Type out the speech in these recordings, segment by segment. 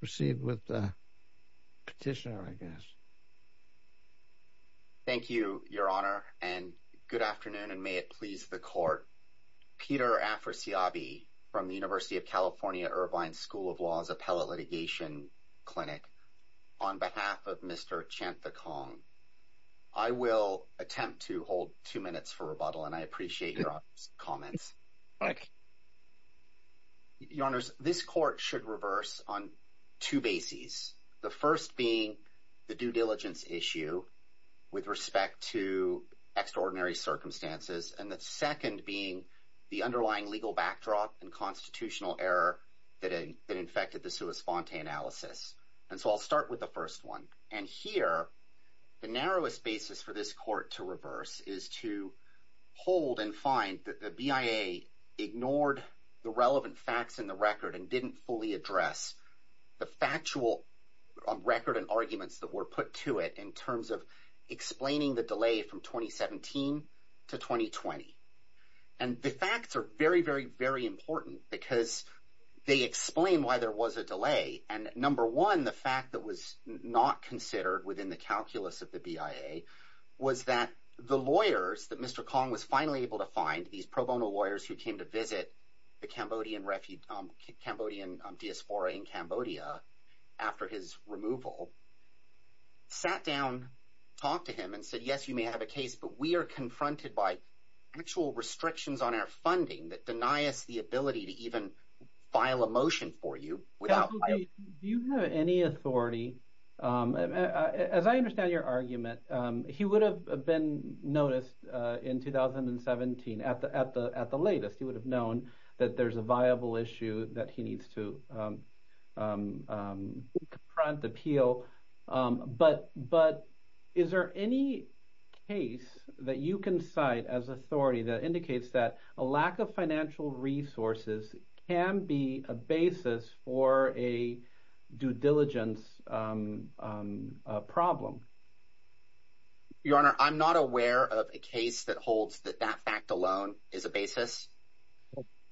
Proceed with petitioner I guess. Thank you your honor and good afternoon and may it please the court. Peter Afrasiabi from the University of California Irvine School of Law's Appellate Litigation Clinic on behalf of Mr. Chanthakong. I will attempt to hold two minutes for rebuttal and I appreciate your comments. Thank you. Your honors, this court should reverse on two bases. The first being the due diligence issue with respect to extraordinary circumstances and the second being the underlying legal backdrop and constitutional error that infected the sua sponte analysis. And so I'll start with the first one. And here the narrowest basis for this court to reverse is to hold and find that the BIA ignored the relevant facts in the record and didn't fully address the factual record and arguments that were put to it in terms of explaining the delay from 2017 to 2020. And the facts are very very very important because they explain why there was a delay and number one the fact that was not considered within the calculus of the BIA was that the lawyers that Mr. Kong was finally able to find, these pro bono lawyers who came to visit the Cambodian diaspora in Cambodia after his removal, sat down talked to him and said yes you may have a case but we are confronted by actual restrictions on our funding that deny us the ability to even file a motion for you. Do you have any authority, as I understand your argument, he would have been noticed in 2017 at the at the at the latest he would have known that there's a viable issue that he needs to front appeal but but is there any case that you can cite as authority that indicates that a lack of financial resources can be a basis for a due diligence problem? Your Honor I'm not aware of a case that holds that that fact alone is a basis.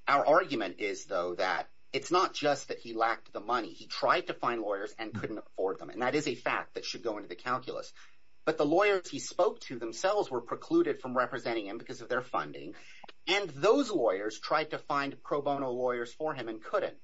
Our argument is though that it's not just that he lacked the money he tried to find lawyers and couldn't afford them and that is a fact that should go into the calculus but the lawyers he spoke to themselves were precluded from representing him because of their funding and those lawyers tried to find pro bono lawyers for him and couldn't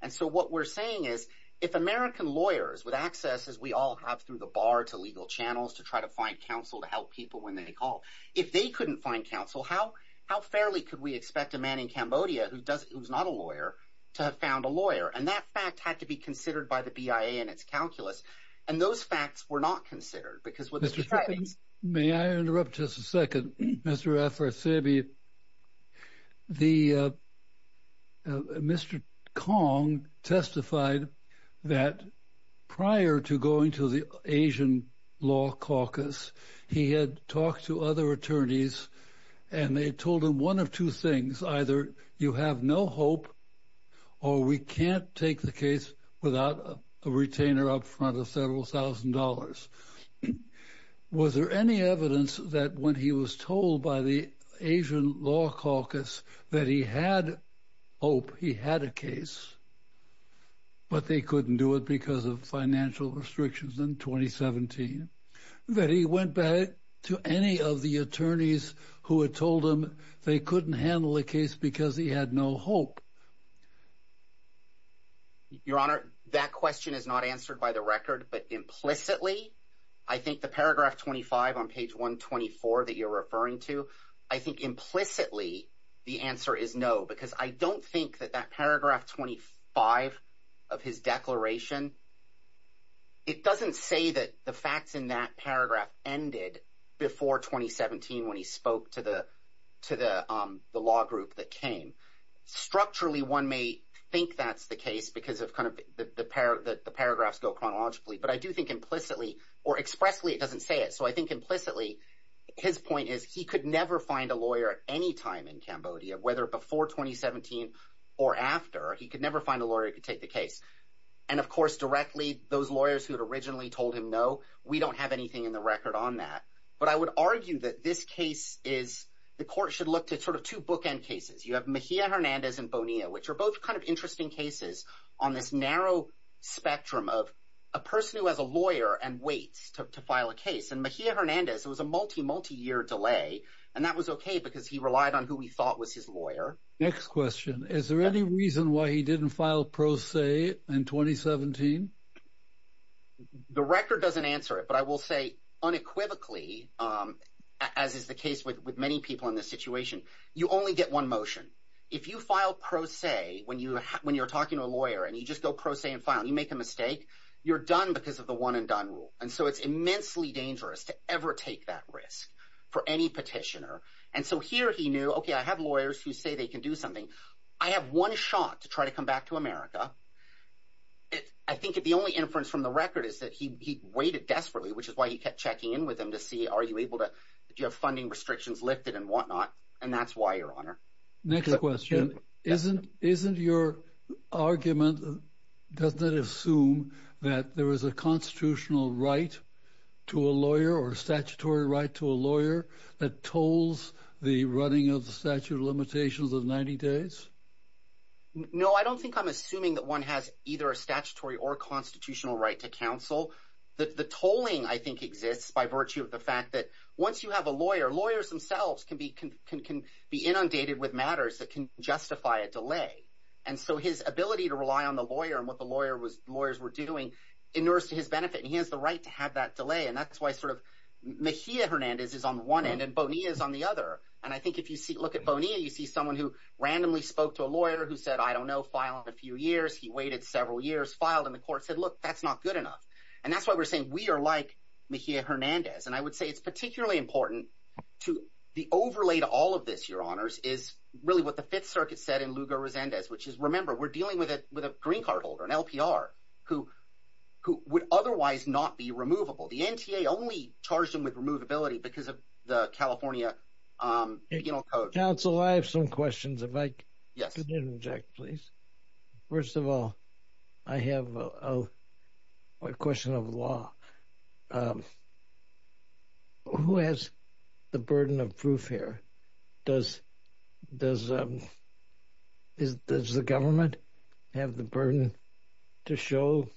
and so what we're saying is if American lawyers with access as we all have through the bar to legal channels to try to find counsel to help people when they call if they couldn't find counsel how how fairly could we expect a man in Cambodia who does it was not a lawyer to have found a lawyer and that fact had to be considered by the BIA and its calculus and those facts were not considered because what Mr. Fittings May I interrupt just a second Mr. Afrasiabi. Mr. Kong testified that prior to going to the Asian Law Caucus he had talked to other attorneys and they told him one of two things either you have no hope or we can't take the case without a retainer up front of several thousand dollars was there any evidence that when he was told by the Asian Law Caucus that he had hope he had a case but they couldn't do it because of financial restrictions in 2017 that he went back to any of the attorneys who had told him they couldn't handle the case because he had no hope your honor that question is not answered by the record but implicitly I think the paragraph 25 on page 124 that you're referring to I think implicitly the answer is no because I don't think that that paragraph 25 of his declaration it doesn't say that the facts in that paragraph ended before 2017 when he to the to the law group that came structurally one may think that's the case because of kind of the pair that the paragraphs go chronologically but I do think implicitly or expressly doesn't say it so I think implicitly his point is he could never find a lawyer anytime in Cambodia whether before 2017 or after he could never find a lawyer to take the case and of course directly those lawyers who originally told him no we don't have anything in the record on that but I would argue that this case is the court should look to sort of two bookend cases you have Mejia Hernandez and Bonilla which are both kind of interesting cases on this narrow spectrum of a person who has a lawyer and waits to file a case and Mejia Hernandez it was a multi multi-year delay and that was okay because he relied on who he thought was his lawyer next question is there any reason why he didn't file pro se in 2017 the record doesn't answer it but I will say unequivocally as is the case with with many people in this situation you only get one motion if you file pro se when you when you're talking to a lawyer and you just go pro se and file you make a mistake you're done because of the one-and-done rule and so it's immensely dangerous to ever take that risk for any petitioner and so here he knew okay I have lawyers who say they can do something I have one shot to try to come to America I think if the only inference from the record is that he waited desperately which is why he kept checking in with him to see are you able to do you have funding restrictions lifted and whatnot and that's why your honor next question isn't isn't your argument doesn't assume that there is a constitutional right to a lawyer or statutory right to a lawyer that tolls the running of statute of limitations of 90 days no I don't think I'm assuming that one has either a statutory or constitutional right to counsel that the tolling I think exists by virtue of the fact that once you have a lawyer lawyers themselves can be can be inundated with matters that can justify a delay and so his ability to rely on the lawyer and what the lawyer was lawyers were doing in nurse to his benefit he has the right to have that delay and that's why sort of Mejia Hernandez is on one end and Bonilla is on the other and I think if you see look at Bonilla you see someone who randomly spoke to a lawyer who said I don't know file in a few years he waited several years filed in the court said look that's not good enough and that's why we're saying we are like Mejia Hernandez and I would say it's particularly important to the overlay to all of this your honors is really what the Fifth Circuit said in Lugar Resendez which is remember we're dealing with it with a green card holder an LPR who who would otherwise not be removable the NTA only charged him with removability because of the California Council I have some questions if I yes Jack please first of all I have a question of law who has the burden of here does does does the government have the burden to show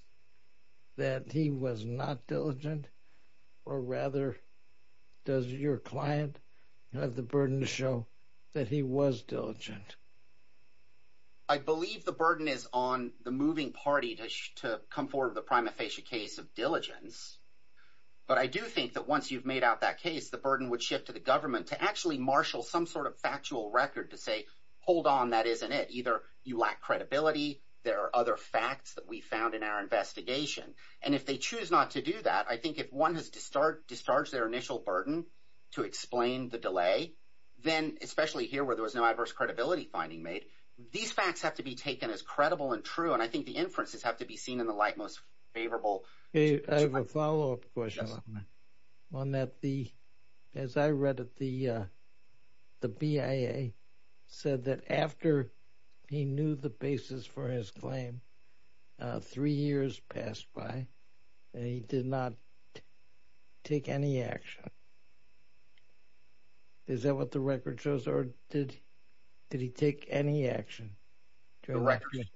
that he was not diligent or rather does your client have the burden to show that he was diligent I believe the burden is on the moving party to come forward the prima facie case of diligence but I do think that once you've made out that case the shift to the government to actually marshal some sort of factual record to say hold on that isn't it either you lack credibility there are other facts that we found in our investigation and if they choose not to do that I think if one has to start discharge their initial burden to explain the delay then especially here where there was no adverse credibility finding made these facts have to be taken as credible and true and I think the inferences have to be seen in the light most favorable one that the as I read it the the BIA said that after he knew the basis for his claim three years passed by and he did not take any action is that what the record shows or did did he take any action to a record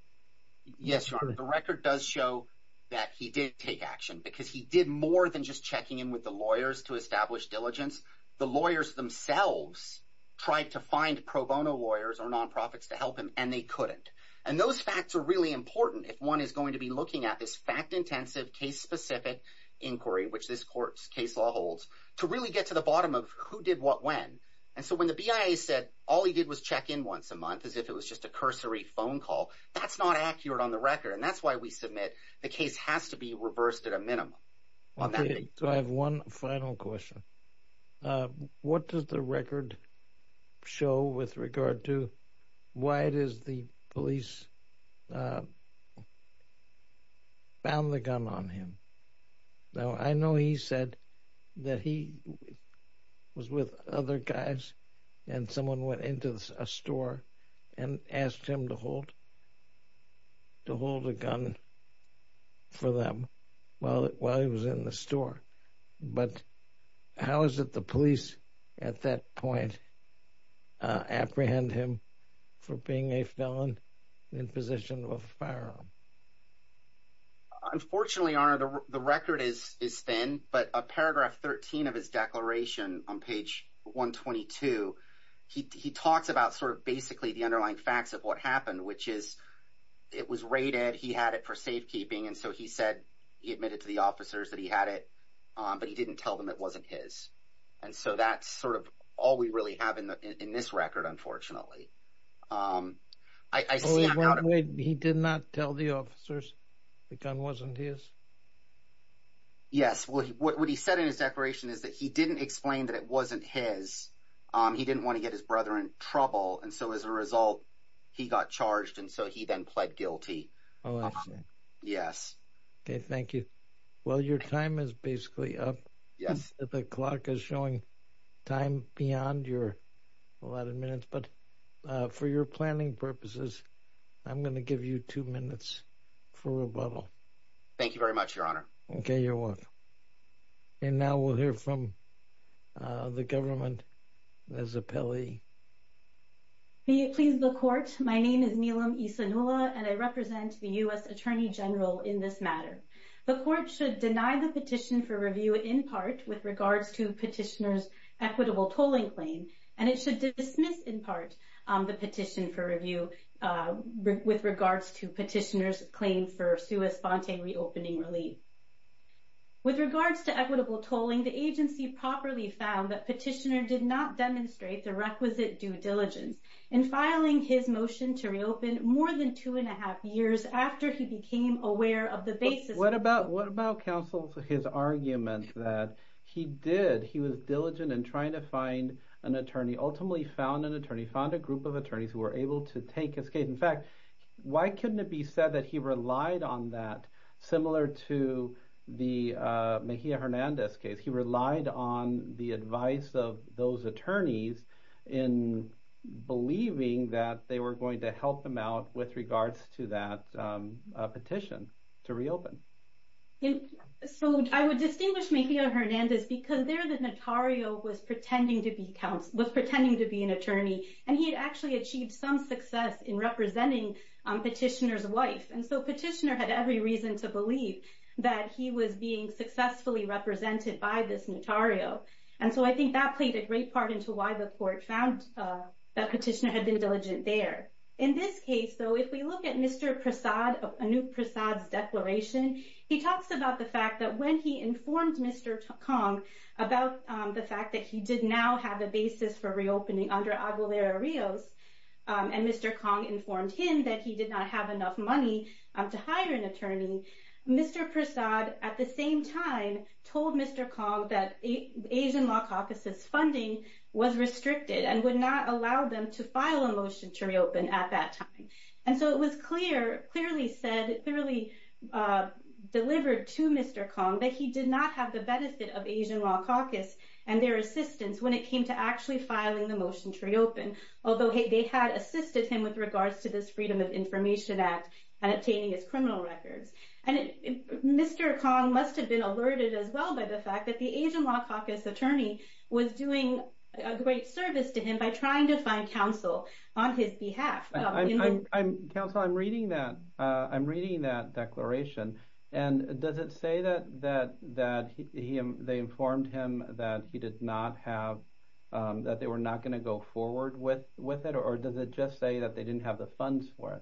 yes the record does show that he did take action because he did more than just checking in with the lawyers to establish diligence the lawyers themselves tried to find pro bono lawyers or nonprofits to help him and they couldn't and those facts are really important if one is going to be looking at this fact-intensive case specific inquiry which this courts case law holds to really get to the bottom of who did what when and so when the BIA said all he did was check in once a month as if it was just a cursory phone call that's not accurate on the record and that's why we submit the case has to be reversed at a minimum on that so I have one final question what does the record show with regard to why it is the police found the gun on him now I know he said that he was with other guys and someone went into a store and asked him to hold to hold a gun for them well while he was in the store but how is it the police at that point apprehend him for being a felon in possession of a paragraph 13 of his declaration on page 122 he talks about sort of basically the underlying facts of what happened which is it was rated he had it for safekeeping and so he said he admitted to the officers that he had it but he didn't tell them it wasn't his and so that's sort of all we really have in the in this record unfortunately he did not tell the officers the gun wasn't his yes what he said in his declaration is that he didn't explain that it wasn't his he didn't want to get his brother in trouble and so as a result he got charged and so he then pled guilty oh yes okay thank you well your time is basically up yes the clock is showing time beyond your a lot of minutes but for your planning purposes I'm gonna give you two minutes for rebuttal thank you very much your honor okay you're welcome and now we'll hear from the government as a Pele please the court my name is Neelam Issa Nula and I represent the US Attorney General in this matter the court should deny the petition for review in part with regards to petitioners equitable tolling claim and it should dismiss in part the petition for review with regards to petitioners claim for sui sponte reopening relief with regards to equitable tolling the agency properly found that petitioner did not demonstrate the requisite due diligence in filing his motion to reopen more than two and a half years after he became aware of the basis what about what about counsel for his argument that he did he was diligent and trying to find an attorney ultimately found an attorney found a group of attorneys who were able to take his case in fact why couldn't it be said that he relied on that similar to the Mejia Hernandez case he relied on the advice of those attorneys in believing that they were going to help him out with regards to that petition to reopen so I would distinguish making a Hernandez because there the notario was pretending to be counts was pretending to be an attorney and he had actually achieved some success in representing petitioners wife and so petitioner had every reason to believe that he was being successfully represented by this notario and so I think that played a great part into why the court found that petitioner had been diligent there in this case though if we look at mr. Prasad a new Prasad's declaration he talks about the fact that when he informed mr. Kong about the fact that he did now have a basis for reopening under Aguilera Rios and mr. Kong informed him that he did not have enough money to hire an attorney mr. Prasad at the same time told mr. Kong that a Asian Law Caucuses funding was restricted and would not allow them to file a motion to reopen at that time and so it was clear clearly said it clearly delivered to mr. Kong that he did not have the benefit of Asian Law Caucus and their assistance when it came to actually filing the motion to reopen although hey they had assisted him with regards to this Freedom of Information Act and obtaining his criminal records and mr. Kong must have been alerted as well by the fact that the Asian Law Caucus attorney was doing a great service to him by trying to find counsel on his behalf I'm counsel I'm reading that I'm reading that declaration and does it say that that that he they informed him that he did not have that they were not going to go forward with with it or does it just say that they didn't have the funds for it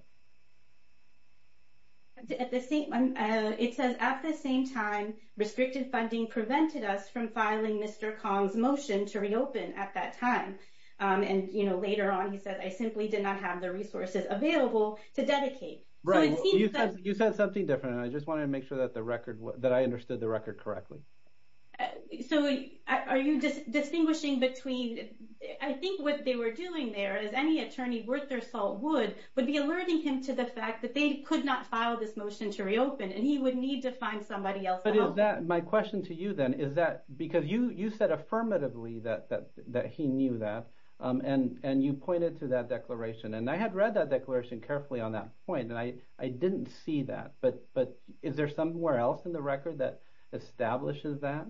it says at the same time restricted funding prevented us from filing mr. Kong's motion to reopen at that time and you know later on he said I simply did not have the resources available to dedicate right you said something different I just wanted to make sure that the record was that I understood the record correctly so are you just distinguishing between I think what they were doing there is any attorney worth their salt would would be alerting him to the fact that they could not file this motion to reopen and he would need to find somebody else but is that my question to you then is that because you you said affirmatively that that he knew that and and you pointed to that declaration and I had read that declaration carefully on that point and I I didn't see that but but is there somewhere else in the record that establishes that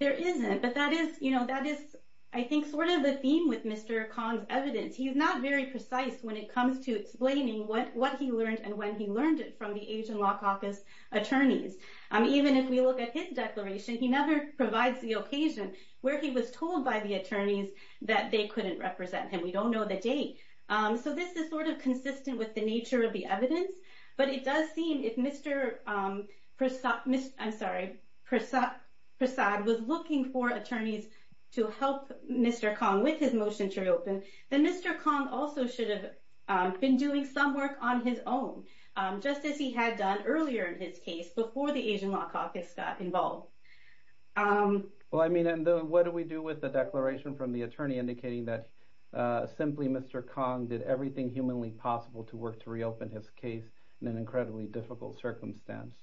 there isn't but that is you know that is I think sort of a theme with mr. Kong's evidence he's not very precise when it comes to explaining what what he learned and when he learned it from the Asian Law Caucus attorneys I mean even if we look at his declaration he never provides the occasion where he was told by the attorneys that they couldn't represent him we don't know the date so this is sort of consistent with the nature of evidence but it does seem if mr. Prasad missed I'm sorry Prasad Prasad was looking for attorneys to help mr. Kong with his motion to reopen then mr. Kong also should have been doing some work on his own just as he had done earlier in his case before the Asian Law Caucus got involved well I mean and what do we do with the declaration from the attorney indicating that simply mr. Kong did everything humanly possible to work to reopen his case in an incredibly difficult circumstance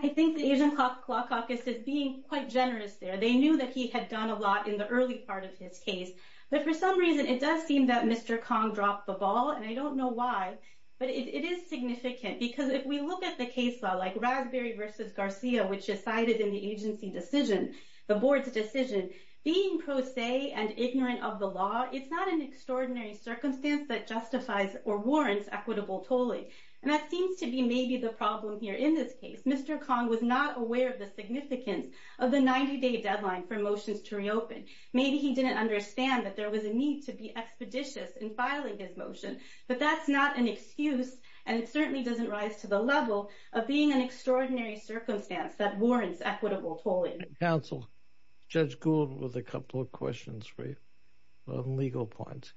I think the Asian Law Caucus is being quite generous there they knew that he had done a lot in the early part of his case but for some reason it does seem that mr. Kong dropped the ball and I don't know why but it is significant because if we look at the case law like Raspberry versus Garcia which is cited in the agency decision the board's decision being pro of the law it's not an extraordinary circumstance that justifies or warrants equitable tolling and that seems to be maybe the problem here in this case mr. Kong was not aware of the significance of the 90-day deadline for motions to reopen maybe he didn't understand that there was a need to be expeditious in filing his motion but that's not an excuse and it certainly doesn't rise to the level of being an extraordinary circumstance that warrants equitable tolling counsel judge Gould with a couple of questions for you on legal points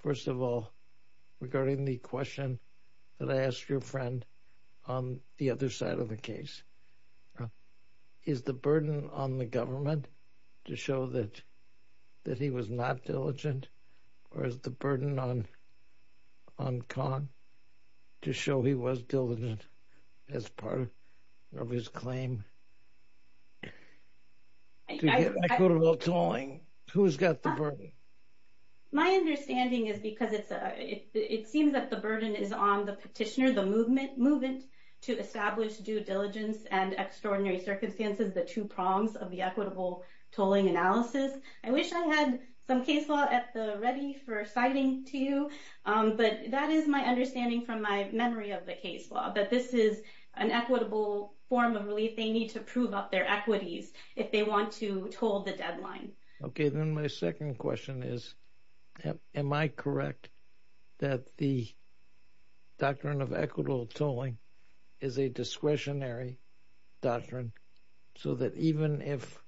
first of all regarding the question that I asked your friend on the other side of the case is the burden on the government to show that that he was not diligent or is the burden on on Kong to show he was diligent as part of his claim my understanding is because it's a it seems that the burden is on the petitioner the movement movement to establish due diligence and extraordinary circumstances the two prongs of the equitable tolling analysis I wish I had some case law at the ready for citing to you but that is my understanding from my of the case law that this is an equitable form of relief they need to prove up their equities if they want to told the deadline okay then my second question is am I correct that the doctrine of equitable tolling is a discretionary doctrine so that even if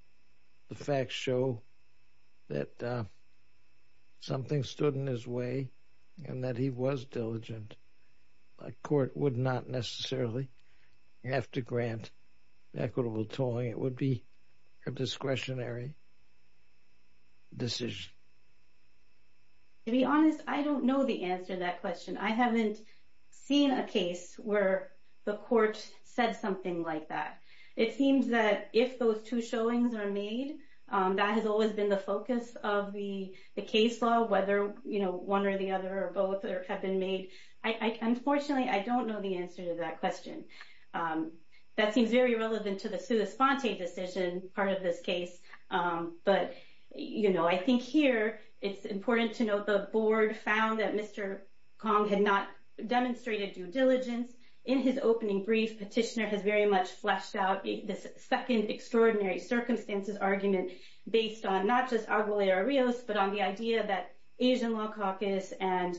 the facts show that something stood in his way and that he was diligent a court would not necessarily have to grant equitable tolling it would be a discretionary decision to be honest I don't know the answer that question I haven't seen a case where the court said something like that it seems that if those two showings are made that has been the focus of the the case law whether you know one or the other or both or have been made I unfortunately I don't know the answer to that question that seems very relevant to the sue the sponte decision part of this case but you know I think here it's important to note the board found that mr. Kong had not demonstrated due diligence in his opening brief petitioner has very much out this second extraordinary circumstances argument based on not just our lawyer Rios but on the idea that Asian Law Caucus and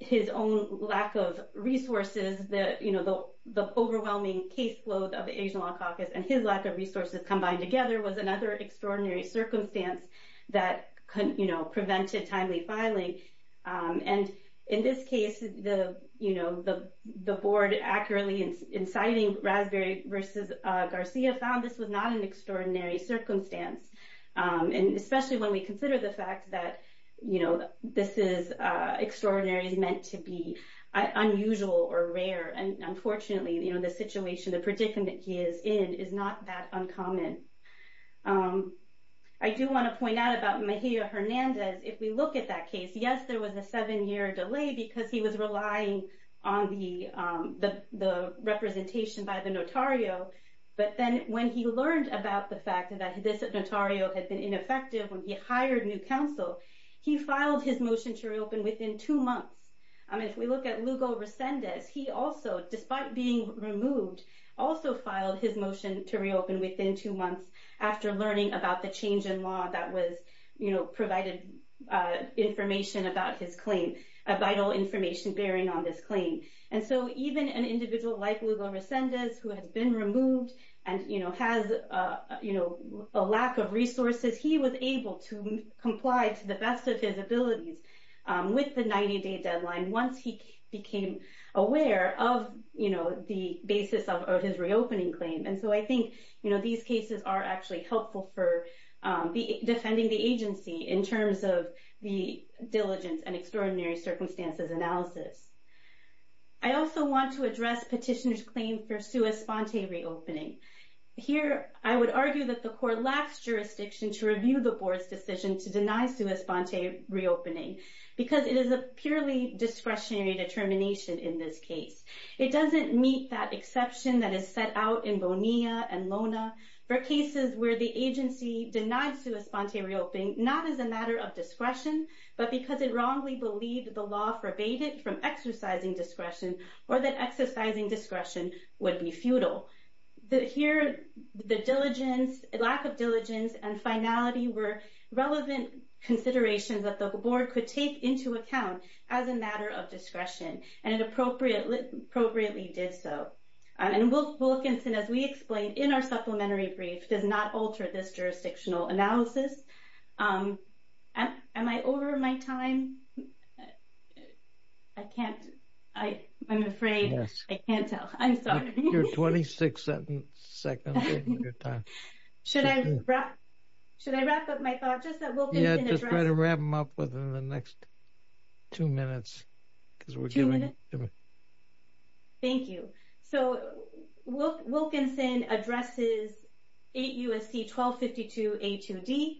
his own lack of resources that you know the overwhelming caseload of the Asian Law Caucus and his lack of resources combined together was another extraordinary circumstance that couldn't you know prevent it timely filing and in this case the you know the the board accurately inciting raspberry versus Garcia found this was not an extraordinary circumstance and especially when we consider the fact that you know this is extraordinary is meant to be unusual or rare and unfortunately you know the situation the predicament he is in is not that uncommon I do want to point out about Hernandez if we look at that case yes there was a seven-year delay because he was relying on the the representation by the notario but then when he learned about the fact that this notario had been ineffective when he hired new counsel he filed his motion to reopen within two months I mean if we look at Lugo Resendez he also despite being removed also filed his motion to reopen within two months after learning about the change in law that was you know provided information about his claim a vital information bearing on this claim and so even an individual like Lugo Resendez who has been removed and you know has you know a lack of resources he was able to comply to the best of his abilities with the 90-day deadline once he became aware of you know the basis of his reopening claim and so I think you know these cases are actually helpful for the defending the agency in terms of the diligence and extraordinary circumstances analysis I also want to address petitioners claim for sua sponte reopening here I would argue that the court lacks jurisdiction to review the board's decision to deny sua sponte reopening because it is a purely discretionary determination in this case it doesn't meet that exception that is set out in Bonilla and Lona for cases where the agency denied sua sponte reopening not as a matter of discretion but because it wrongly believed the law forbade it from exercising discretion or that exercising discretion would be futile the here the diligence lack of diligence and finality were relevant considerations that the board could take into account as a matter of discretion and it appropriately did so and Wilkinson as we explained in our supplementary brief does not alter this jurisdictional analysis am I over my time I can't I I'm afraid yes I can't tell I'm sorry 26 seconds should I wrap should I wrap up my thought just try to wrap them up within the next two minutes because we're doing it thank you so what Wilkinson addresses eight USC 1252 a 2d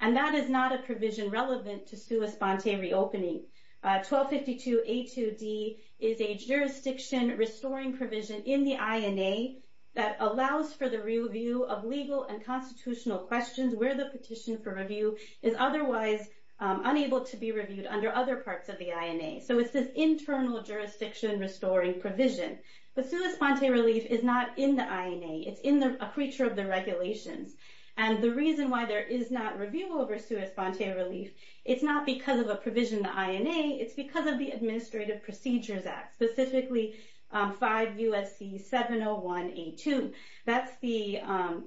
and that is not a provision relevant to sua sponte reopening 1252 a 2d is a jurisdiction restoring provision in the INA that allows for the review of legal and constitutional questions where the petition for review is otherwise unable to be reviewed under other parts of the INA so it's this internal jurisdiction restoring provision the sua sponte relief is not in the INA it's in the creature of the regulations and the reason why there is not review over sua sponte relief it's not because of a provision the INA it's because of the Administrative Procedures Act specifically 5 USC 701 a 2 that's the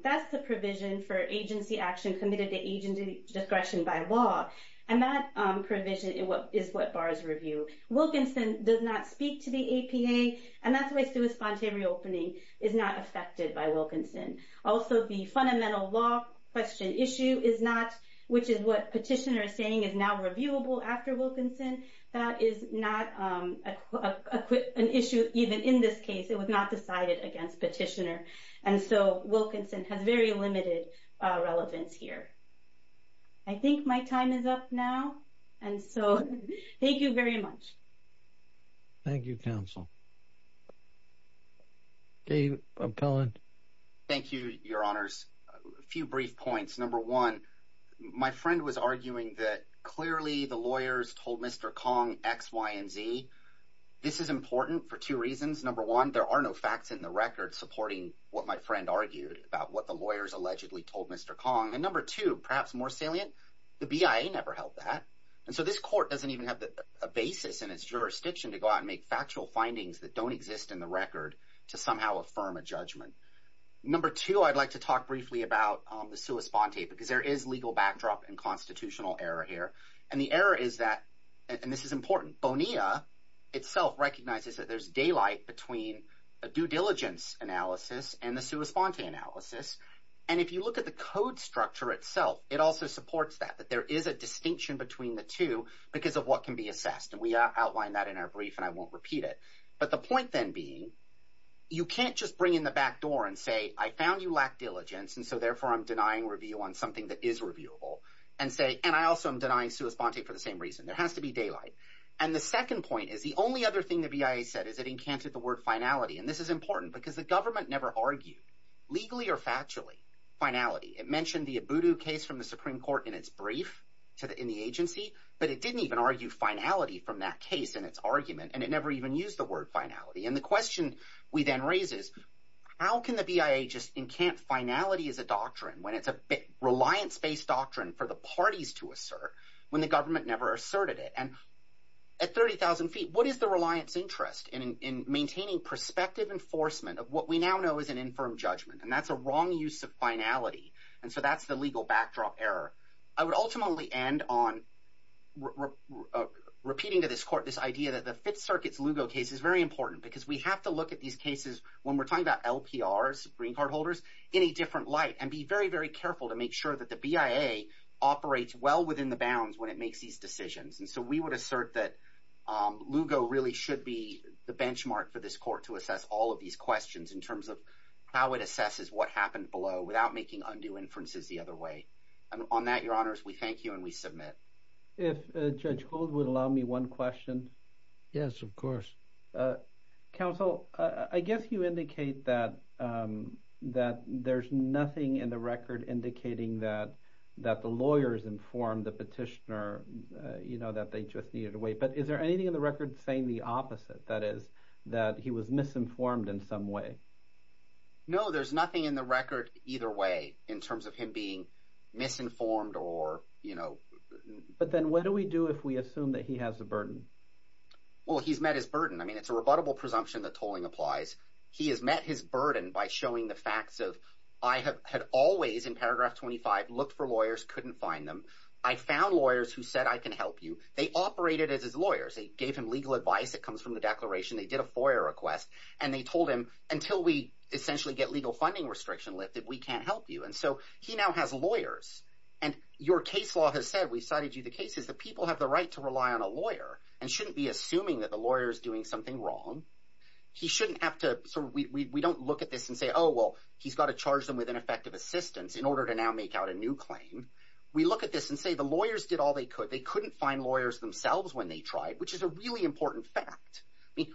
that's the provision for agency action committed to agency discretion by law and that provision is what is what bars review Wilkinson does not speak to the APA and that's the way sua sponte reopening is not affected by Wilkinson also the fundamental law question issue is not which is what petitioner is saying is now reviewable after Wilkinson that is not an issue even in this case it was not decided against petitioner and so Wilkinson has very limited relevance here I think my time is up now and so thank you very much thank you counsel okay I'm telling thank you your honors a few brief points number one my friend was arguing that clearly the lawyers told mr. Kong X Y & Z this is important for two reasons number one there are no facts in the record supporting what my friend argued about what the lawyers allegedly told mr. Kong and number two perhaps more salient the BIA never held that and so this court doesn't even have a basis in its jurisdiction to go out and make factual findings that don't exist in the record to somehow affirm a judgment number two I'd like to talk and the error is that and this is important Bonilla itself recognizes that there's daylight between a due diligence analysis and the sua sponte analysis and if you look at the code structure itself it also supports that that there is a distinction between the two because of what can be assessed and we outlined that in our brief and I won't repeat it but the point then being you can't just bring in the back door and say I found you lack diligence and so therefore I'm denying review on something that is reviewable and say and I also am denying sua sponte for the same reason there has to be daylight and the second point is the only other thing the BIA said is it encanted the word finality and this is important because the government never argued legally or factually finality it mentioned the a voodoo case from the Supreme Court in its brief to the in the agency but it didn't even argue finality from that case in its argument and it never even used the word finality and the question we then raises how can the CIA just in can't finality is a doctrine when it's a bit reliance based doctrine for the parties to assert when the government never asserted it and at 30,000 feet what is the reliance interest in in maintaining perspective enforcement of what we now know is an infirm judgment and that's a wrong use of finality and so that's the legal backdrop error I would ultimately end on repeating to this court this idea that the Fifth Circuit's Lugo case is very important because we have to look at these cases when we're talking about LPRs green card holders in a different light and be very very careful to make sure that the BIA operates well within the bounds when it makes these decisions and so we would assert that Lugo really should be the benchmark for this court to assess all of these questions in terms of how it assesses what happened below without making undue inferences the other way and on that your honors we thank you and we submit if judge gold would allow me one question yes of counsel I guess you indicate that that there's nothing in the record indicating that that the lawyers informed the petitioner you know that they just needed to wait but is there anything in the record saying the opposite that is that he was misinformed in some way no there's nothing in the record either way in terms of him being misinformed or you know but then what do we do if we assume that he has a burden well he's met his burden I mean it's a rebuttable presumption that tolling applies he has met his burden by showing the facts of I have had always in paragraph 25 looked for lawyers couldn't find them I found lawyers who said I can help you they operated as his lawyers they gave him legal advice that comes from the declaration they did a FOIA request and they told him until we essentially get legal funding restriction lifted we can't help you and so he now has lawyers and your case law has said we cited you the case is that people have the right to rely on a lawyer and shouldn't be assuming that the lawyers doing something wrong he shouldn't have to so we don't look at this and say oh well he's got to charge them with an effective assistance in order to now make out a new claim we look at this and say the lawyers did all they could they couldn't find lawyers themselves when they tried which is a really important fact I mean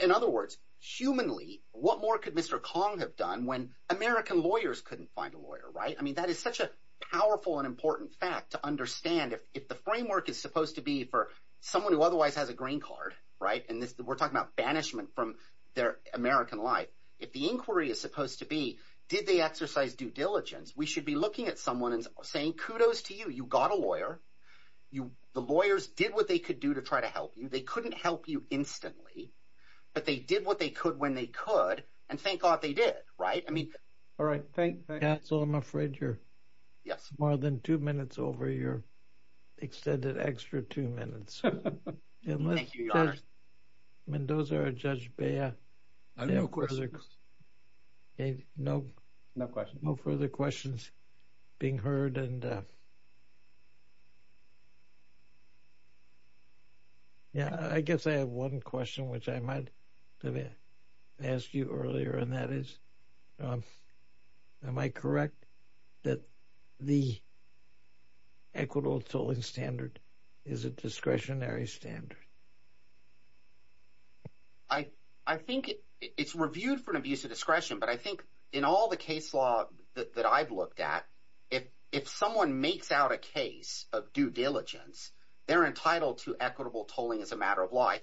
in other words humanly what more could mr. Kong have done when American lawyers couldn't find a lawyer right I mean that is such a powerful and important fact to understand if the framework is supposed to be for someone who otherwise has a green card right and this we're talking about banishment from their American life if the inquiry is supposed to be did they exercise due diligence we should be looking at someone and saying kudos to you you got a lawyer you the lawyers did what they could do to try to help you they couldn't help you instantly but they did what they could when they could and thank God they did right I mean all right that's all I'm afraid you're yes more than two minutes over your extended extra two minutes and those are a judge bear no questions no no question no further questions being heard and yeah I guess I have one question which I might ask you earlier and that is am I correct that the equitable tolling standard is a discretionary standard I I think it's reviewed for an abuse of discretion but I think in all the case law that I've looked at if if someone makes out a case of due diligence they're entitled to equitable tolling as a matter of law I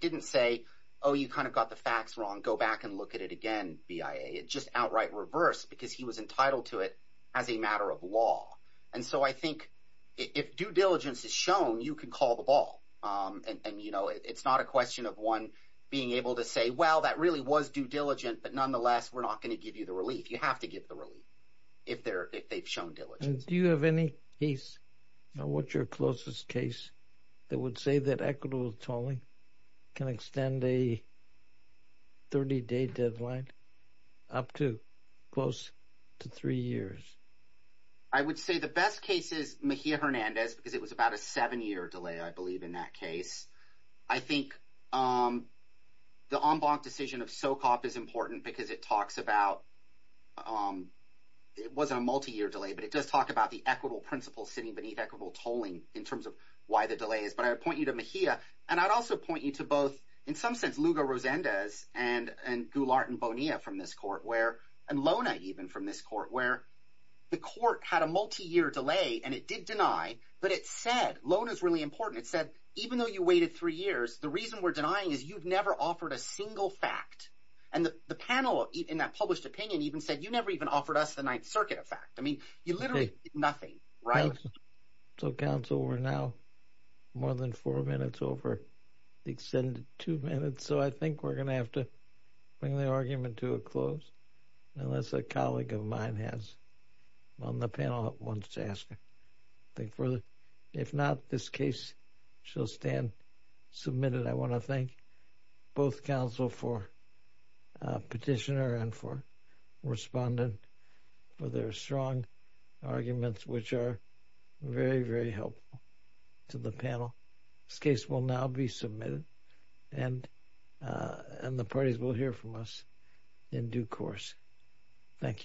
didn't say oh you kind of got the facts wrong go back and look at it again BIA it just outright reverse because he was entitled to it as a matter of law and so I think if due diligence is shown you can call the ball and you know it's not a question of one being able to say well that really was due diligent but nonetheless we're not going to give you the relief you have to give the relief if they're if they've shown diligence do you have any piece now what's your closest case that would say that equitable tolling can extend a 30-day deadline up to close to three years I would say the best case is Mejia Hernandez because it was about a seven-year delay I believe in that case I think the en banc decision of SOCOP is important because it talks about it wasn't a multi-year delay but it does talk about the equitable principle sitting beneath equitable tolling in terms of why the delay is but I point you to Mejia and I'd also point you to both in some sense Lugo Rosendez and and Gulart and Bonilla from this court where and Lona even from this court where the court had a multi-year delay and it did deny but it said loan is really important it said even though you waited three years the reason we're denying is you've never offered a single fact and the panel in that published opinion even said you never even offered us the Ninth Circuit of fact I mean you nothing right so council we're now more than four minutes over the extended two minutes so I think we're gonna have to bring the argument to a close unless a colleague of mine has on the panel wants to ask her think further if not this case shall stand submitted I want to thank both counsel for petitioner and for respondent for their strong arguments which are very very helpful to the panel this case will now be submitted and and the parties will hear from us in due course thank you